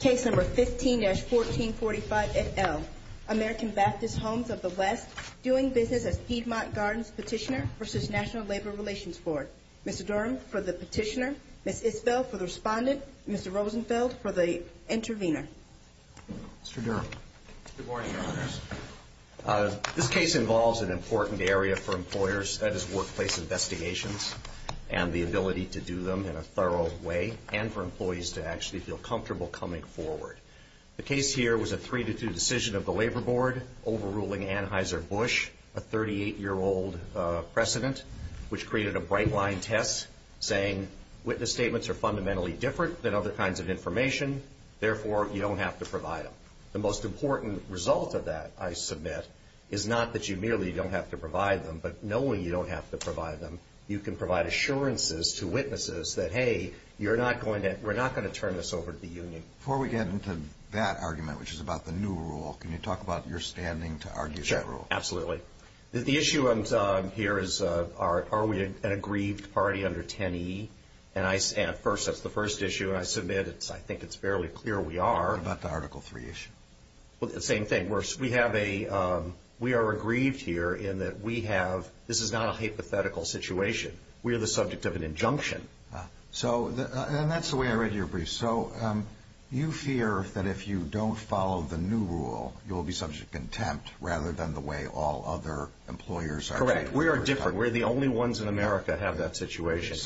Case No. 15-1445 et al., American Baptist Homes of the West, doing business as Piedmont Gardens Petitioner v. National Labor Relations Board. Mr. Durham for the petitioner, Ms. Isbell for the respondent, Mr. Rosenfeld for the intervener. Mr. Durham. Good morning, Your Honors. This case involves an important area for employers, that is workplace investigations and the ability to do them in a thorough way and for employees to actually feel comfortable coming forward. The case here was a 3-2 decision of the Labor Board overruling Anheuser-Busch, a 38-year-old president, which created a bright line test saying witness statements are fundamentally different than other kinds of information, therefore you don't have to provide them. The most important result of that, I submit, is not that you merely don't have to provide them, but knowing you don't have to provide them, you can provide assurances to witnesses that, hey, we're not going to turn this over to the union. Before we get into that argument, which is about the new rule, can you talk about your standing to argue that rule? Absolutely. The issue here is are we an aggrieved party under 10E? And first, that's the first issue I submit. I think it's fairly clear we are. What about the Article 3 issue? Well, the same thing. We are aggrieved here in that we have – this is not a hypothetical situation. We are the subject of an injunction. And that's the way I read your brief. So you fear that if you don't follow the new rule, you'll be subject to contempt rather than the way all other employers are. Correct. We are different. We're the only ones in America that have that situation.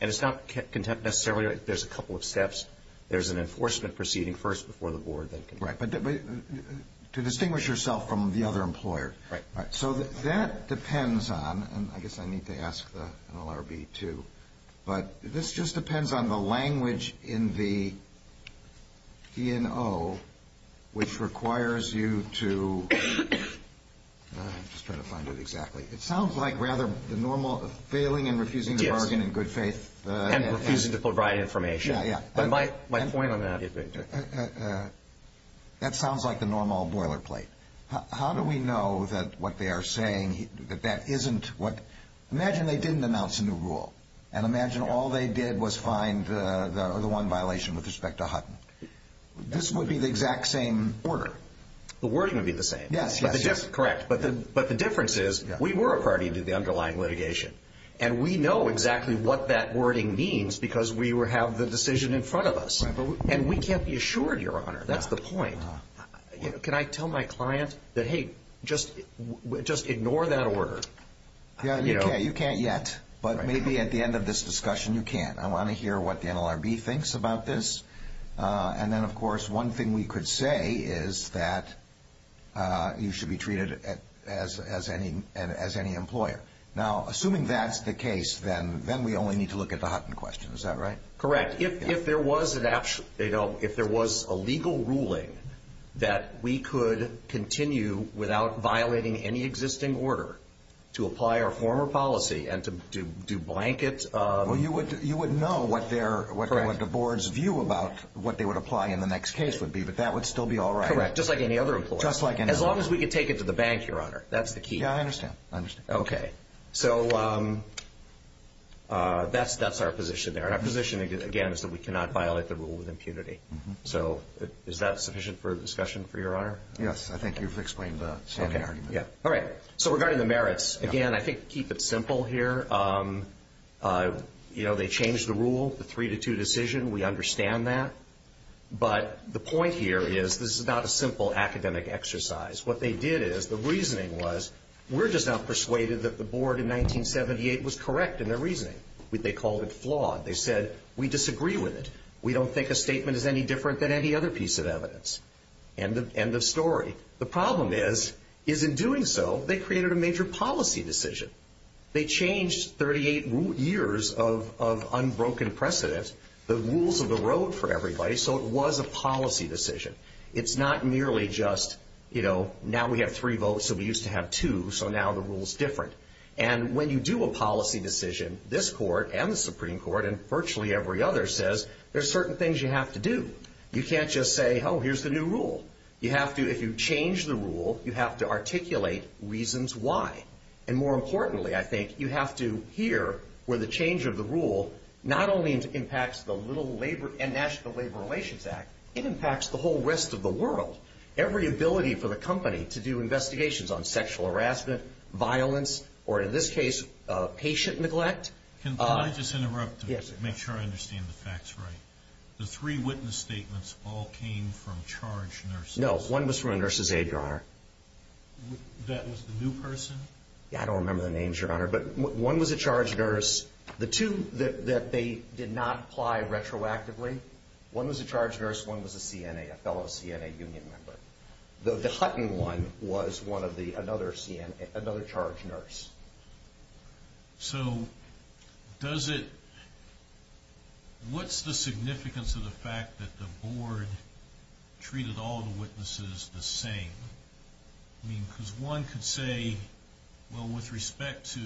And it's not contempt necessarily. There's a couple of steps. There's an enforcement proceeding first before the board. Right. But to distinguish yourself from the other employer. Right. So that depends on – and I guess I need to ask the NLRB, too – but this just depends on the language in the DNO, which requires you to – I'm just trying to find it exactly. It sounds like rather the normal failing and refusing to bargain in good faith. And refusing to provide information. Yeah, yeah. But my point on that is – That sounds like the normal boilerplate. How do we know that what they are saying, that that isn't what – imagine they didn't announce a new rule. And imagine all they did was find the one violation with respect to Hutton. This would be the exact same order. The wording would be the same. Yes, yes. But the difference is we were a party to the underlying litigation. And we know exactly what that wording means because we have the decision in front of us. And we can't be assured, Your Honor. That's the point. Can I tell my client that, hey, just ignore that order? Yeah, you can't yet. But maybe at the end of this discussion you can. I want to hear what the NLRB thinks about this. And then, of course, one thing we could say is that you should be treated as any employer. Now, assuming that's the case, then we only need to look at the Hutton question. Is that right? Correct. If there was a legal ruling that we could continue without violating any existing order to apply our former policy and to do blankets of – Well, you would know what the board's view about what they would apply in the next case would be. But that would still be all right. Correct. Just like any other employer. Just like any other employer. As long as we could take it to the bank, Your Honor. That's the key. Yeah, I understand. I understand. Okay. So that's our position there. And our position, again, is that we cannot violate the rule with impunity. So is that sufficient for discussion, for Your Honor? Yes, I think you've explained the standing argument. Okay. All right. So regarding the merits, again, I think keep it simple here. You know, they changed the rule, the three-to-two decision. We understand that. But the point here is this is not a simple academic exercise. What they did is, the reasoning was, we're just not persuaded that the board in 1978 was correct in their reasoning. They called it flawed. They said, we disagree with it. We don't think a statement is any different than any other piece of evidence. End of story. The problem is, is in doing so, they created a major policy decision. They changed 38 years of unbroken precedent, the rules of the road for everybody, so it was a policy decision. It's not merely just, you know, now we have three votes, so we used to have two, so now the rule's different. And when you do a policy decision, this court and the Supreme Court and virtually every other says, there's certain things you have to do. You can't just say, oh, here's the new rule. You have to, if you change the rule, you have to articulate reasons why. And more importantly, I think, you have to hear where the change of the rule not only impacts the National Labor Relations Act, it impacts the whole rest of the world. Every ability for the company to do investigations on sexual harassment, violence, or in this case, patient neglect. Can I just interrupt to make sure I understand the facts right? The three witness statements all came from charged nurses. No, one was from a nurse's aide, Your Honor. That was the new person? Yeah, I don't remember the names, Your Honor, but one was a charged nurse. The two that they did not apply retroactively, one was a charged nurse, one was a CNA, a fellow CNA union member. The Hutton one was another charged nurse. So does it, what's the significance of the fact that the board treated all the witnesses the same? I mean, because one could say, well, with respect to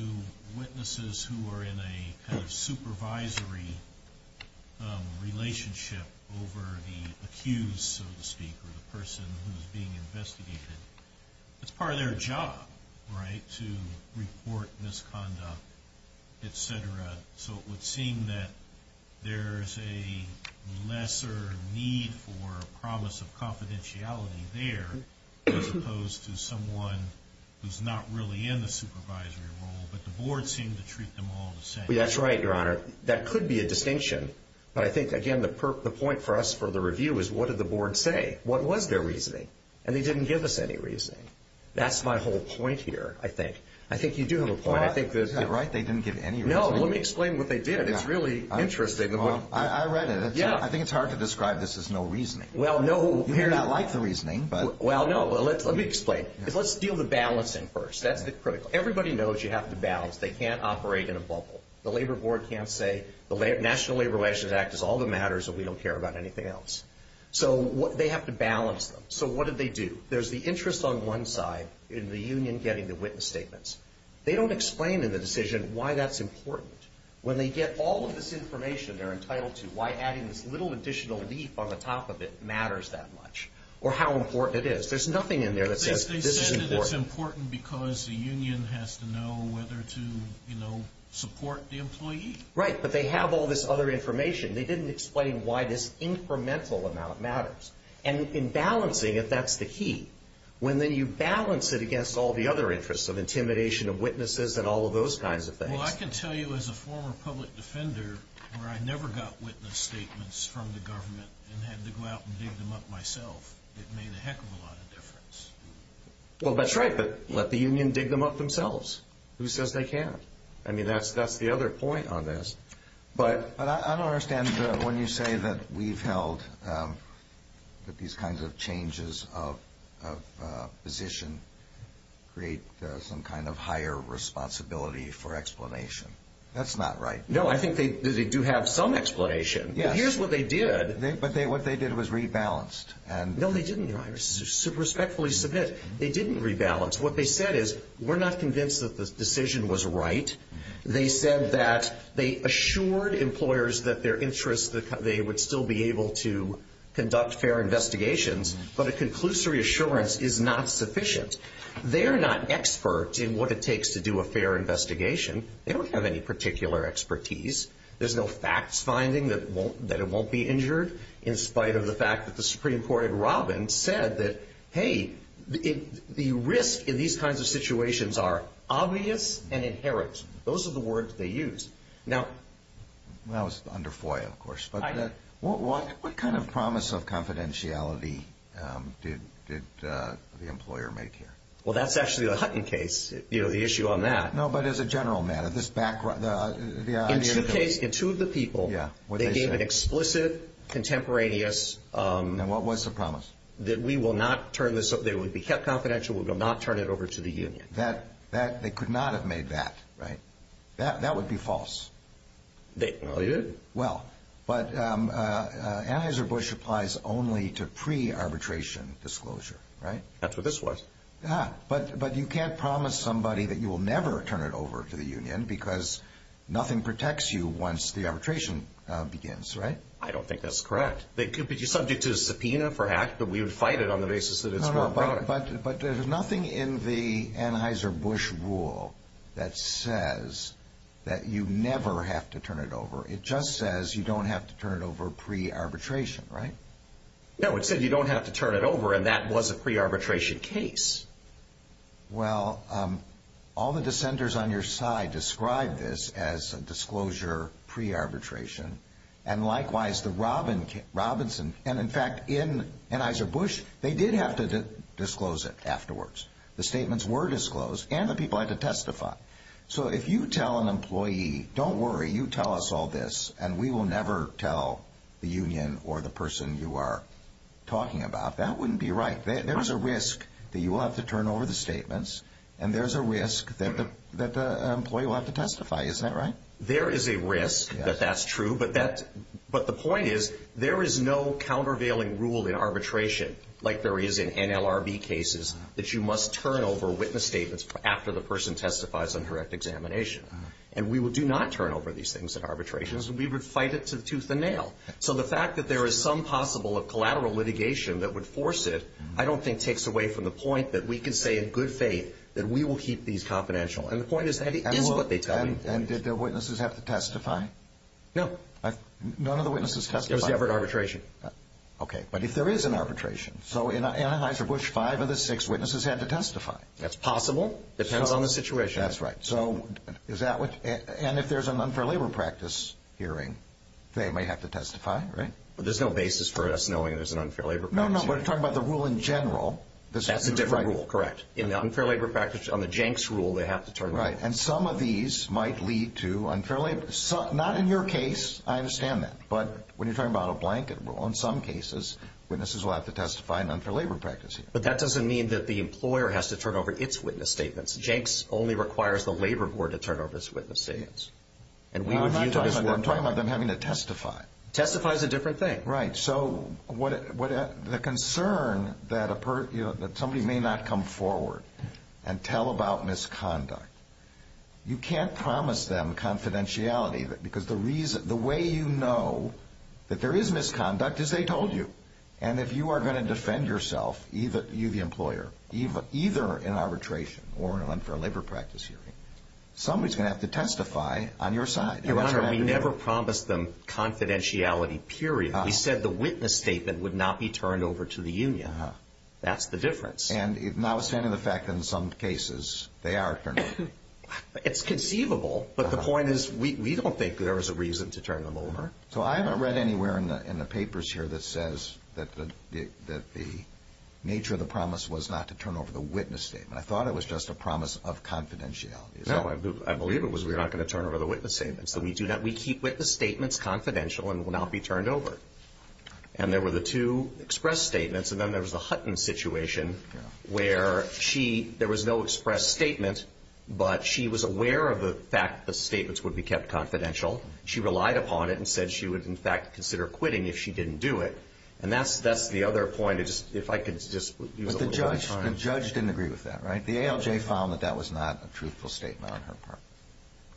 witnesses who are in a kind of supervisory relationship over the accused, so to speak, or the person who's being investigated, it's part of their job, right, to report misconduct, et cetera. So it would seem that there's a lesser need for promise of confidentiality there as opposed to someone who's not really in the supervisory role, but the board seemed to treat them all the same. That's right, Your Honor. That could be a distinction, but I think, again, the point for us for the review is what did the board say? What was their reasoning? And they didn't give us any reasoning. That's my whole point here, I think. I think you do have a point. You're right, they didn't give any reasoning. No, let me explain what they did. It's really interesting. I read it. I think it's hard to describe this as no reasoning. Well, no. You may not like the reasoning, but. Well, no, let me explain. Let's deal with balancing first. That's the critical. Everybody knows you have to balance. They can't operate in a bubble. The labor board can't say the National Labor Relations Act is all that matters and we don't care about anything else. So they have to balance them. So what did they do? There's the interest on one side in the union getting the witness statements. They don't explain in the decision why that's important. When they get all of this information they're entitled to, why adding this little additional leaf on the top of it matters that much. Or how important it is. There's nothing in there that says this is important. They said it's important because the union has to know whether to, you know, support the employee. Right, but they have all this other information. They didn't explain why this incremental amount matters. And in balancing it, that's the key. When then you balance it against all the other interests of intimidation of witnesses and all of those kinds of things. Well, I can tell you as a former public defender where I never got witness statements from the government and had to go out and dig them up myself. It made a heck of a lot of difference. Well, that's right, but let the union dig them up themselves. Who says they can't? I mean, that's the other point on this. But I don't understand when you say that we've held that these kinds of changes of position create some kind of higher responsibility for explanation. That's not right. No, I think they do have some explanation. Yes. But here's what they did. But what they did was rebalanced. No, they didn't. I respectfully submit they didn't rebalance. What they said is we're not convinced that the decision was right. They said that they assured employers that their interests, they would still be able to conduct fair investigations, but a conclusory assurance is not sufficient. They're not experts in what it takes to do a fair investigation. They don't have any particular expertise. There's no facts finding that it won't be injured in spite of the fact that the Supreme Court in Robbins said that, hey, the risk in these kinds of situations are obvious and inherent. Those are the words they used. That was under FOIA, of course. What kind of promise of confidentiality did the employer make here? Well, that's actually a Hutton case, the issue on that. No, but as a general matter, this background. In two of the people, they gave an explicit contemporaneous. And what was the promise? That we will not turn this, they would be kept confidential. We will not turn it over to the union. They could not have made that, right? That would be false. Well, they did. Well, but Anheuser-Busch applies only to pre-arbitration disclosure, right? That's what this was. But you can't promise somebody that you will never turn it over to the union because nothing protects you once the arbitration begins, right? I don't think that's correct. But you're subject to a subpoena for act, but we would fight it on the basis that it's more important. But there's nothing in the Anheuser-Busch rule that says that you never have to turn it over. It just says you don't have to turn it over pre-arbitration, right? No, it said you don't have to turn it over, and that was a pre-arbitration case. Well, all the dissenters on your side described this as a disclosure pre-arbitration. And likewise, the Robinson, and in fact, in Anheuser-Busch, they did have to disclose it afterwards. The statements were disclosed, and the people had to testify. So if you tell an employee, don't worry, you tell us all this, and we will never tell the union or the person you are talking about, that wouldn't be right. There's a risk that you will have to turn over the statements, and there's a risk that the employee will have to testify. Isn't that right? There is a risk that that's true, but the point is there is no countervailing rule in arbitration, like there is in NLRB cases, that you must turn over witness statements after the person testifies on correct examination. And we do not turn over these things in arbitrations. We would fight it to the tooth and nail. So the fact that there is some possible of collateral litigation that would force it, I don't think takes away from the point that we can say in good faith that we will keep these confidential. And the point is that it is what they tell you. And did the witnesses have to testify? No, none of the witnesses testified. It was never an arbitration. Okay, but if there is an arbitration, so in Anheuser-Busch, five of the six witnesses had to testify. That's possible. Depends on the situation. That's right. And if there's an unfair labor practice hearing, they may have to testify, right? But there's no basis for us knowing there's an unfair labor practice hearing. No, no, but talking about the rule in general. That's a different rule, correct. In the unfair labor practice, on the Jenks rule, they have to turn over. Right, and some of these might lead to unfair labor. Not in your case. I understand that. But when you're talking about a blanket rule, in some cases witnesses will have to testify in unfair labor practice hearings. But that doesn't mean that the employer has to turn over its witness statements. Jenks only requires the labor board to turn over its witness statements. I'm not talking about them having to testify. Testify is a different thing. Right. So the concern that somebody may not come forward and tell about misconduct, you can't promise them confidentiality, because the way you know that there is misconduct is they told you. And if you are going to defend yourself, you the employer, either in arbitration or in an unfair labor practice hearing, somebody is going to have to testify on your side. Your Honor, we never promised them confidentiality, period. We said the witness statement would not be turned over to the union. That's the difference. And notwithstanding the fact that in some cases they are turned over. It's conceivable, but the point is we don't think there is a reason to turn them over. So I haven't read anywhere in the papers here that says that the nature of the promise was not to turn over the witness statement. I thought it was just a promise of confidentiality. No, I believe it was we're not going to turn over the witness statement. So we keep witness statements confidential and will not be turned over. And there were the two express statements, and then there was the Hutton situation, where there was no express statement, but she was aware of the fact the statements would be kept confidential. She relied upon it and said she would, in fact, consider quitting if she didn't do it. And that's the other point. If I could just use a little more time. But the judge didn't agree with that, right? The ALJ found that that was not a truthful statement on her part.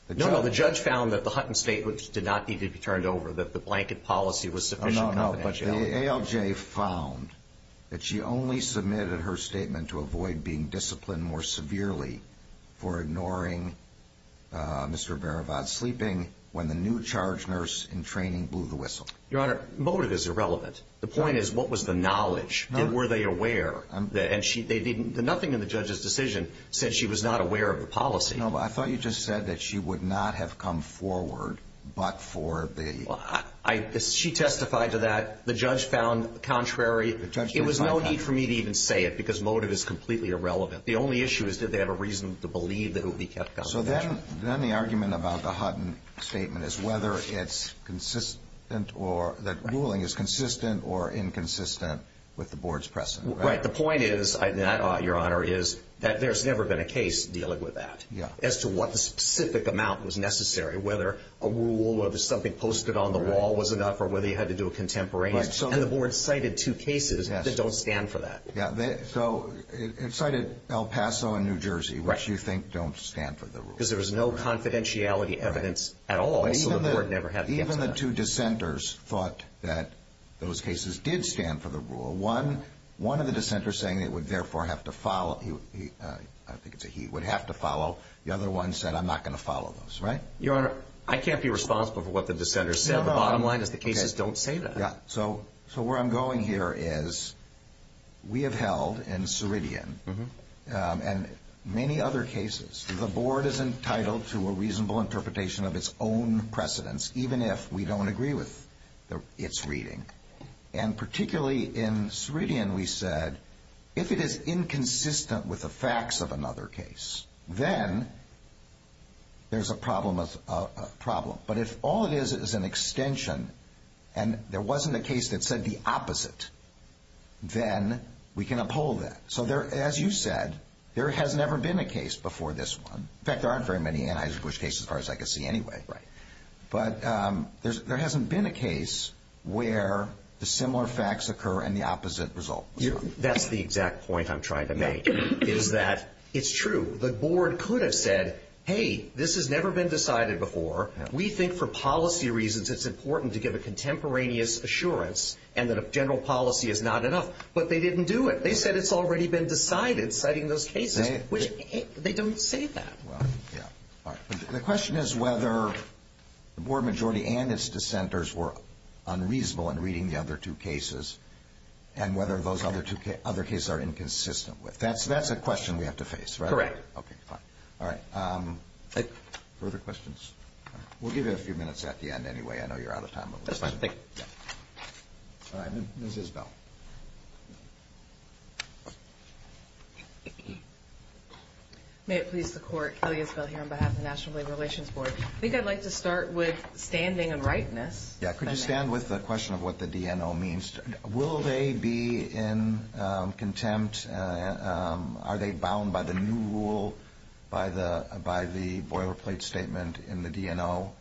No, no, the judge found that the Hutton statement did not need to be turned over, that the blanket policy was sufficient confidentiality. No, no, but the ALJ found that she only submitted her statement to avoid being disciplined more severely for ignoring Mr. Barabat's sleeping when the new charge nurse in training blew the whistle. Your Honor, motive is irrelevant. The point is what was the knowledge? Were they aware? Nothing in the judge's decision said she was not aware of the policy. No, but I thought you just said that she would not have come forward but for the... She testified to that. The judge found contrary. It was no need for me to even say it because motive is completely irrelevant. The only issue is did they have a reason to believe that it would be kept confidential. So then the argument about the Hutton statement is whether it's consistent or that ruling is consistent or inconsistent with the board's precedent, right? Right, the point is, Your Honor, is that there's never been a case dealing with that as to what the specific amount was necessary, whether a rule or something posted on the wall was enough or whether you had to do a contemporaneous. And the board cited two cases that don't stand for that. Yeah, so it cited El Paso and New Jersey, which you think don't stand for the rule. Because there was no confidentiality evidence at all, so the board never had to answer that. Even the two dissenters thought that those cases did stand for the rule. One of the dissenters saying it would therefore have to follow, I think it's a he, would have to follow. The other one said, I'm not going to follow those, right? Your Honor, I can't be responsible for what the dissenters said. The bottom line is the cases don't say that. So where I'm going here is we have held in Ceridian and many other cases, the board is entitled to a reasonable interpretation of its own precedents even if we don't agree with its reading. And particularly in Ceridian we said if it is inconsistent with the facts of another case, then there's a problem. But if all it is is an extension and there wasn't a case that said the opposite, then we can uphold that. So as you said, there has never been a case before this one. In fact, there aren't very many Anheuser-Busch cases as far as I can see anyway. But there hasn't been a case where the similar facts occur and the opposite result. That's the exact point I'm trying to make is that it's true. The board could have said, hey, this has never been decided before. We think for policy reasons it's important to give a contemporaneous assurance and that a general policy is not enough. But they didn't do it. They said it's already been decided citing those cases, which they don't say that. The question is whether the board majority and its dissenters were unreasonable in reading the other two cases and whether those other cases are inconsistent with. That's a question we have to face, right? Correct. Okay, fine. All right. Further questions? We'll give you a few minutes at the end anyway. I know you're out of time. That's fine. Thank you. All right. Ms. Isbell. May it please the court, Kelly Isbell here on behalf of the National Labor Relations Board. I think I'd like to start with standing and rightness. Yeah, could you stand with the question of what the DNO means? Will they be in contempt? Are they bound by the new rule, by the boilerplate statement in the DNO?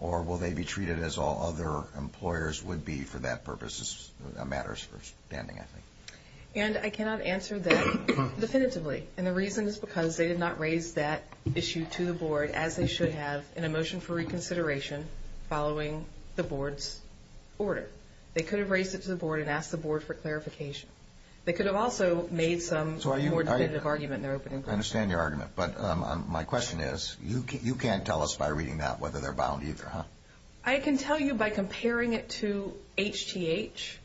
Or will they be treated as all other employers would be for that purpose? That matters for standing, I think. And I cannot answer that definitively. And the reason is because they did not raise that issue to the board, as they should have, in a motion for reconsideration following the board's order. They could have raised it to the board and asked the board for clarification. They could have also made some more definitive argument in their opening question. I understand your argument. But my question is, you can't tell us by reading that whether they're bound either, huh? I can tell you by comparing it to HTH.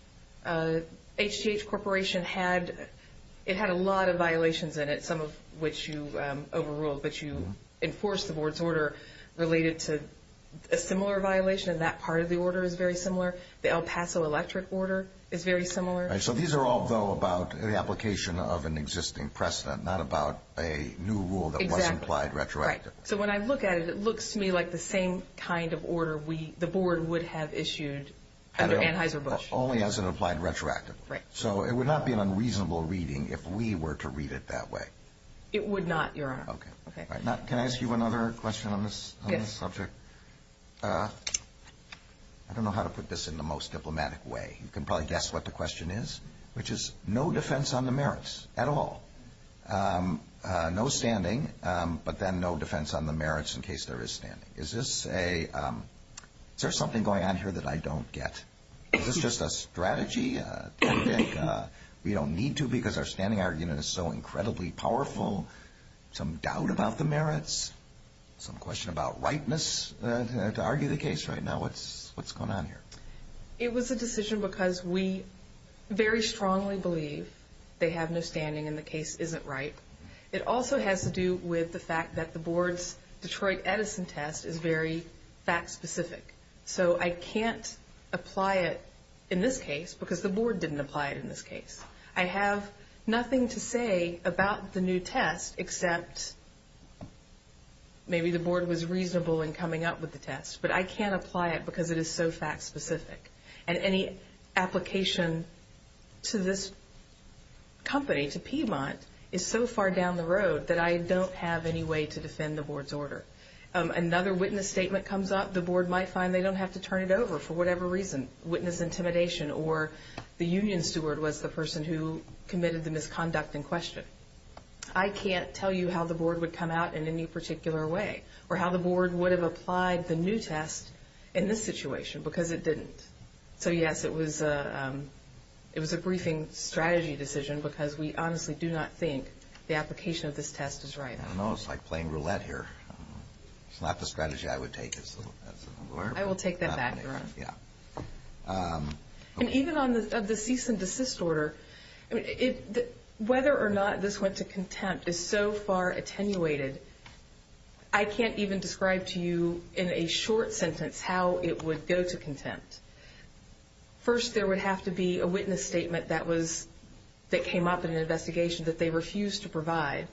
HTH Corporation had a lot of violations in it, some of which you overruled. But you enforced the board's order related to a similar violation, and that part of the order is very similar. The El Paso electric order is very similar. So these are all, though, about the application of an existing precedent, not about a new rule that was implied retroactively. Exactly. Right. So when I look at it, it looks to me like the same kind of order the board would have issued under Anheuser-Busch. Only as an implied retroactively. Right. So it would not be an unreasonable reading if we were to read it that way. It would not, Your Honor. Okay. Can I ask you another question on this subject? Yes. I don't know how to put this in the most diplomatic way. You can probably guess what the question is, which is no defense on the merits at all. No standing, but then no defense on the merits in case there is standing. Is this a – is there something going on here that I don't get? Is this just a strategy? Do you think we don't need to because our standing argument is so incredibly powerful? Some doubt about the merits? Some question about rightness to argue the case right now? What's going on here? It was a decision because we very strongly believe they have no standing and the case isn't right. It also has to do with the fact that the board's Detroit Edison test is very fact-specific. So I can't apply it in this case because the board didn't apply it in this case. I have nothing to say about the new test except maybe the board was reasonable in coming up with the test. But I can't apply it because it is so fact-specific. And any application to this company, to Piedmont, is so far down the road that I don't have any way to defend the board's order. Another witness statement comes up. The board might find they don't have to turn it over for whatever reason. Witness intimidation or the union steward was the person who committed the misconduct in question. I can't tell you how the board would come out in any particular way or how the board would have applied the new test in this situation because it didn't. So, yes, it was a briefing strategy decision because we honestly do not think the application of this test is right. I don't know. It's like playing roulette here. It's not the strategy I would take as a lawyer. I will take that back, Your Honor. And even on the cease and desist order, whether or not this went to contempt is so far attenuated. I can't even describe to you in a short sentence how it would go to contempt. First, there would have to be a witness statement that came up in an investigation that they refused to provide.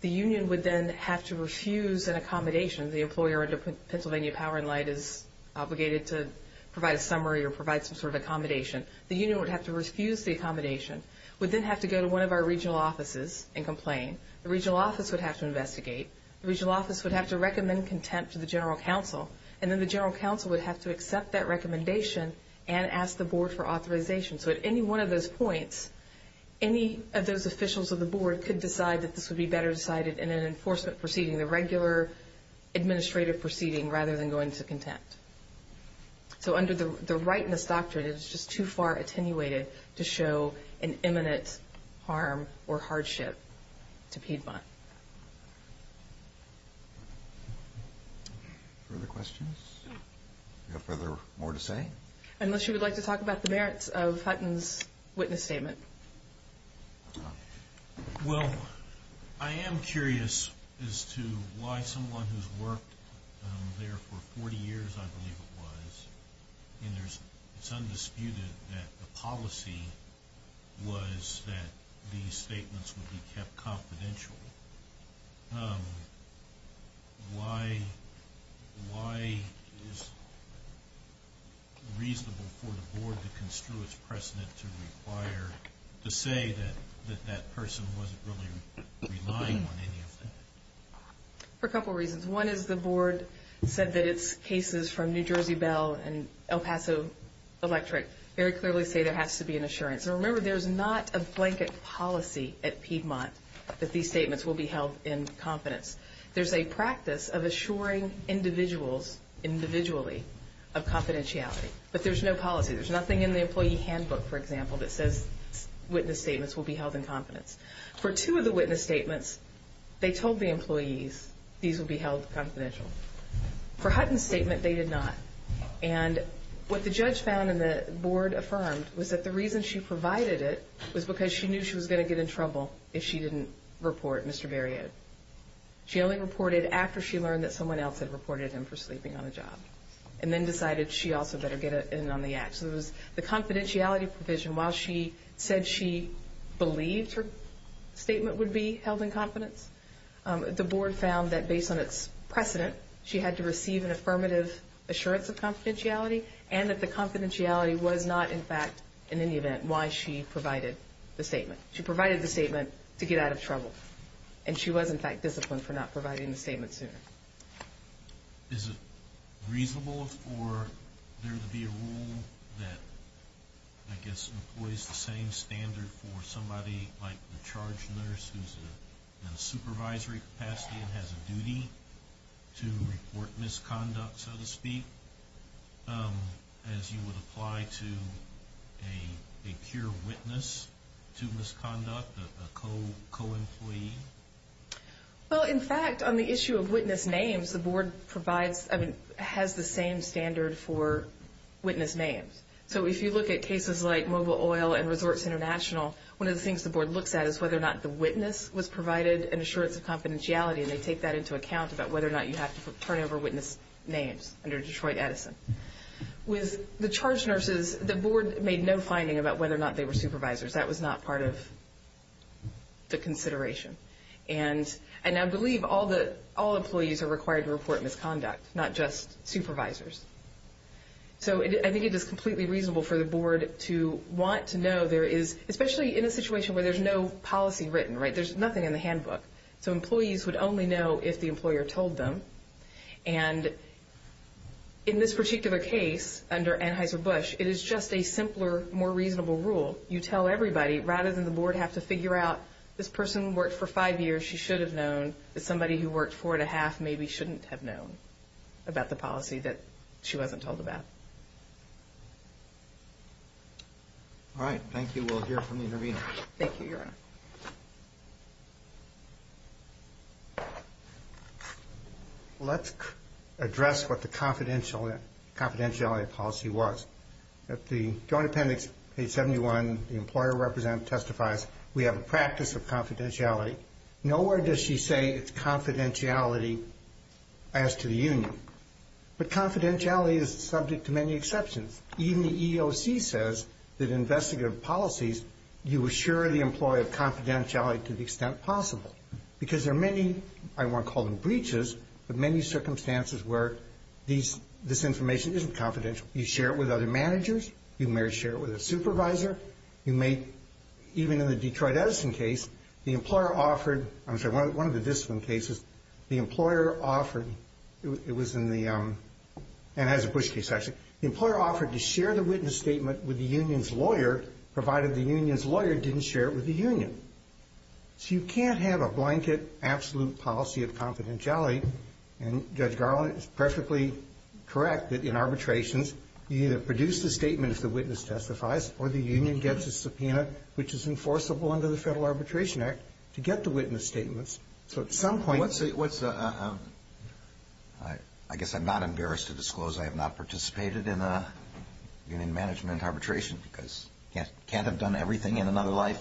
The union would then have to refuse an accommodation. The employer under Pennsylvania Power and Light is obligated to provide a summary or provide some sort of accommodation. The union would have to refuse the accommodation, would then have to go to one of our regional offices and complain. The regional office would have to investigate. The regional office would have to recommend contempt to the general counsel, and then the general counsel would have to accept that recommendation and ask the board for authorization. So at any one of those points, any of those officials of the board could decide that this would be better decided in an enforcement proceeding. The regular administrative proceeding rather than going to contempt. So under the rightness doctrine, it is just too far attenuated to show an imminent harm or hardship to Piedmont. Further questions? Do you have further more to say? Unless you would like to talk about the merits of Hutton's witness statement. Well, I am curious as to why someone who's worked there for 40 years, I believe it was, and it's undisputed that the policy was that these statements would be kept confidential. Why is it reasonable for the board to construe its precedent to require, to say that that person wasn't really relying on any of that? For a couple of reasons. One is the board said that its cases from New Jersey Bell and El Paso Electric very clearly say there has to be an assurance. And remember, there's not a blanket policy at Piedmont that these statements will be held in confidence. There's a practice of assuring individuals individually of confidentiality. But there's no policy. There's nothing in the employee handbook, for example, that says witness statements will be held in confidence. For two of the witness statements, they told the employees these would be held confidential. For Hutton's statement, they did not. And what the judge found and the board affirmed was that the reason she provided it was because she knew she was going to get in trouble if she didn't report Mr. Barriott. She only reported after she learned that someone else had reported him for sleeping on the job and then decided she also better get in on the act. So it was the confidentiality provision, while she said she believed her statement would be held in confidence, the board found that based on its precedent, she had to receive an affirmative assurance of confidentiality and that the confidentiality was not, in fact, in any event, why she provided the statement. She provided the statement to get out of trouble. And she was, in fact, disciplined for not providing the statement sooner. Is it reasonable for there to be a rule that, I guess, employs the same standard for somebody like the charge nurse who's in a supervisory capacity and has a duty to report misconduct, so to speak, as you would apply to a pure witness to misconduct, a co-employee? Well, in fact, on the issue of witness names, the board has the same standard for witness names. So if you look at cases like Mobile Oil and Resorts International, one of the things the board looks at is whether or not the witness was provided an assurance of confidentiality, and they take that into account about whether or not you have to turn over witness names under Detroit Edison. With the charge nurses, the board made no finding about whether or not they were supervisors. That was not part of the consideration. And I believe all employees are required to report misconduct, not just supervisors. So I think it is completely reasonable for the board to want to know there is, especially in a situation where there's no policy written, right? There's nothing in the handbook. So employees would only know if the employer told them. And in this particular case under Anheuser-Busch, it is just a simpler, more reasonable rule. You tell everybody, rather than the board have to figure out, this person worked for five years, she should have known, and somebody who worked four and a half maybe shouldn't have known about the policy that she wasn't told about. All right, thank you. We'll hear from the intervener. Thank you, Your Honor. Let's address what the confidentiality policy was. At the Joint Appendix 871, the employer representative testifies, we have a practice of confidentiality. Nowhere does she say it's confidentiality as to the union. But confidentiality is subject to many exceptions. Even the EOC says that investigative policies, you assure the employee of confidentiality to the extent possible. Because there are many, I won't call them breaches, but many circumstances where this information isn't confidential. You share it with other managers. You may share it with a supervisor. You may, even in the Detroit Edison case, the employer offered, I'm sorry, one of the discipline cases, the employer offered, it was in the, and as a Bush case, actually, the employer offered to share the witness statement with the union's lawyer, provided the union's lawyer didn't share it with the union. So you can't have a blanket, absolute policy of confidentiality. And Judge Garland is perfectly correct that in arbitrations, you either produce the statement if the witness testifies or the union gets a subpoena, which is enforceable under the Federal Arbitration Act, to get the witness statements. So at some point. What's the, I guess I'm not embarrassed to disclose I have not participated in a union management arbitration because I can't have done everything in another life.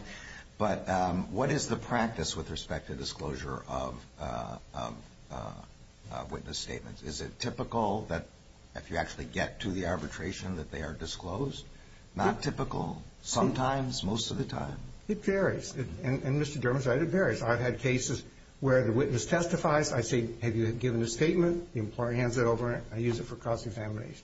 But what is the practice with respect to disclosure of witness statements? Is it typical that if you actually get to the arbitration, that they are disclosed? Not typical. Sometimes, most of the time. It varies. And Mr. Dermot said it varies. I've had cases where the witness testifies. I say, have you given a statement? The employer hands it over and I use it for cost examination.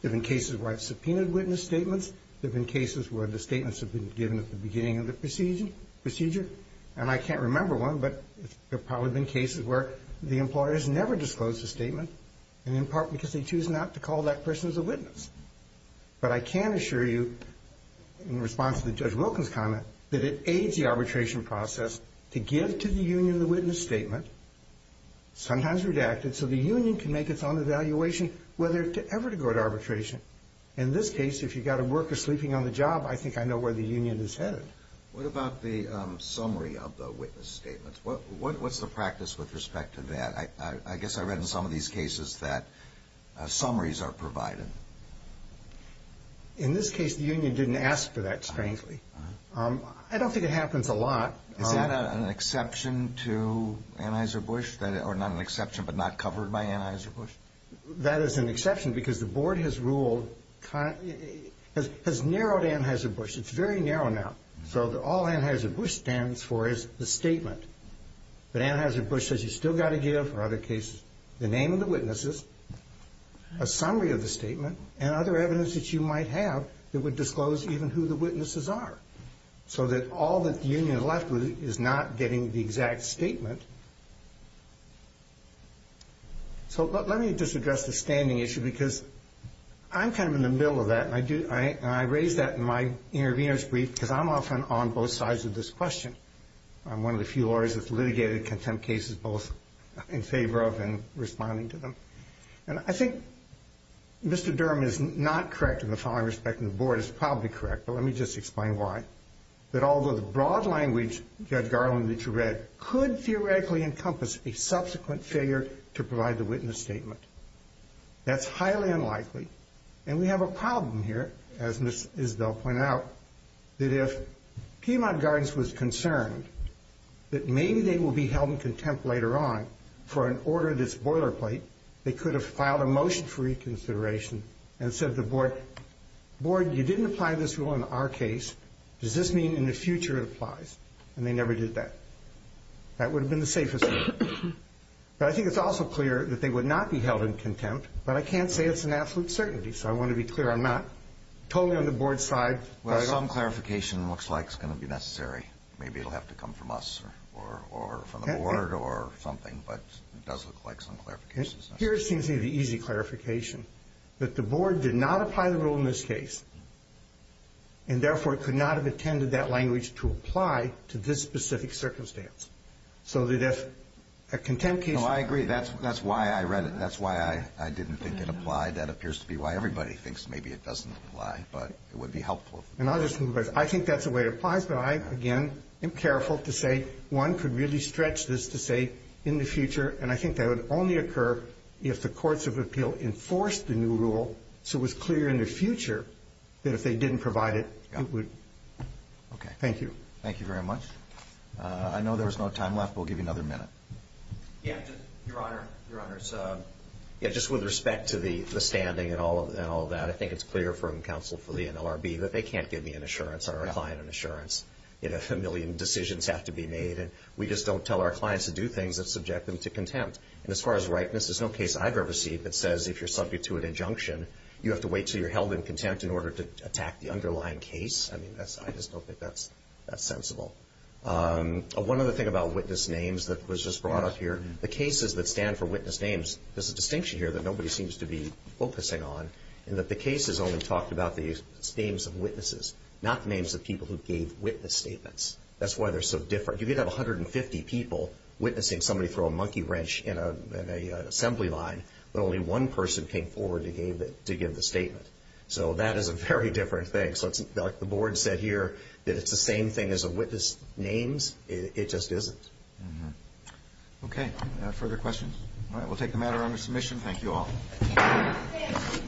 There have been cases where I've subpoenaed witness statements. There have been cases where the statements have been given at the beginning of the procedure. And I can't remember one, but there have probably been cases where the employer has never disclosed a statement, and in part because they choose not to call that person as a witness. But I can assure you, in response to Judge Wilkins' comment, that it aids the arbitration process to give to the union the witness statement, sometimes redacted, so the union can make its own evaluation whether ever to go to arbitration. In this case, if you've got a worker sleeping on the job, I think I know where the union is headed. What about the summary of the witness statements? What's the practice with respect to that? I guess I read in some of these cases that summaries are provided. In this case, the union didn't ask for that, strangely. I don't think it happens a lot. Is that an exception to Anheuser-Busch, or not an exception but not covered by Anheuser-Busch? That is an exception because the board has narrowed Anheuser-Busch. It's very narrow now. So all Anheuser-Busch stands for is the statement. But Anheuser-Busch says you've still got to give, for other cases, the name of the witnesses, a summary of the statement, and other evidence that you might have that would disclose even who the witnesses are, so that all that the union is left with is not getting the exact statement. So let me just address the standing issue because I'm kind of in the middle of that, and I raise that in my intervener's brief because I'm often on both sides of this question. I'm one of the few lawyers that's litigated contempt cases both in favor of and responding to them. And I think Mr. Durham is not correct in the following respect, and the board is probably correct, but let me just explain why. That although the broad language, Judge Garland, that you read, could theoretically encompass a subsequent failure to provide the witness statement, that's highly unlikely, and we have a problem here, as Ms. Isbell pointed out, that if Piedmont Gardens was concerned that maybe they will be held in contempt later on for an order that's boilerplate, they could have filed a motion for reconsideration and said to the board, board, you didn't apply this rule in our case. Does this mean in the future it applies? And they never did that. That would have been the safest thing. But I think it's also clear that they would not be held in contempt, but I can't say it's an absolute certainty, so I want to be clear I'm not totally on the board's side. Well, some clarification looks like it's going to be necessary. Maybe it will have to come from us or from the board or something, but it does look like some clarification is necessary. Here it seems to be the easy clarification, that the board did not apply the rule in this case and therefore could not have attended that language to apply to this specific circumstance so that if a contempt case. No, I agree. That's why I read it. That's why I didn't think it applied. That appears to be why everybody thinks maybe it doesn't apply, but it would be helpful. And I'll just move it. I think that's the way it applies, but I, again, am careful to say one could really stretch this to say in the future, and I think that would only occur if the courts of appeal enforced the new rule so it was clear in the future that if they didn't provide it, it would. Okay. Thank you. Thank you very much. I know there's no time left. We'll give you another minute. Yeah. Your Honor, just with respect to the standing and all of that, I think it's clear from counsel for the NLRB that they can't give me an assurance or our client an assurance if a million decisions have to be made, and we just don't tell our clients to do things that subject them to contempt. And as far as ripeness, there's no case I've ever seen that says if you're subject to an injunction, you have to wait until you're held in contempt in order to attack the underlying case. I mean, I just don't think that's sensible. One other thing about witness names that was just brought up here, the cases that stand for witness names, there's a distinction here that nobody seems to be focusing on, in that the cases only talk about the names of witnesses, not the names of people who gave witness statements. That's why they're so different. You could have 150 people witnessing somebody throw a monkey wrench in an assembly line, but only one person came forward to give the statement. So that is a very different thing. So the board said here that it's the same thing as a witness names. It just isn't. Okay. Further questions? All right. We'll take the matter under submission. Thank you all.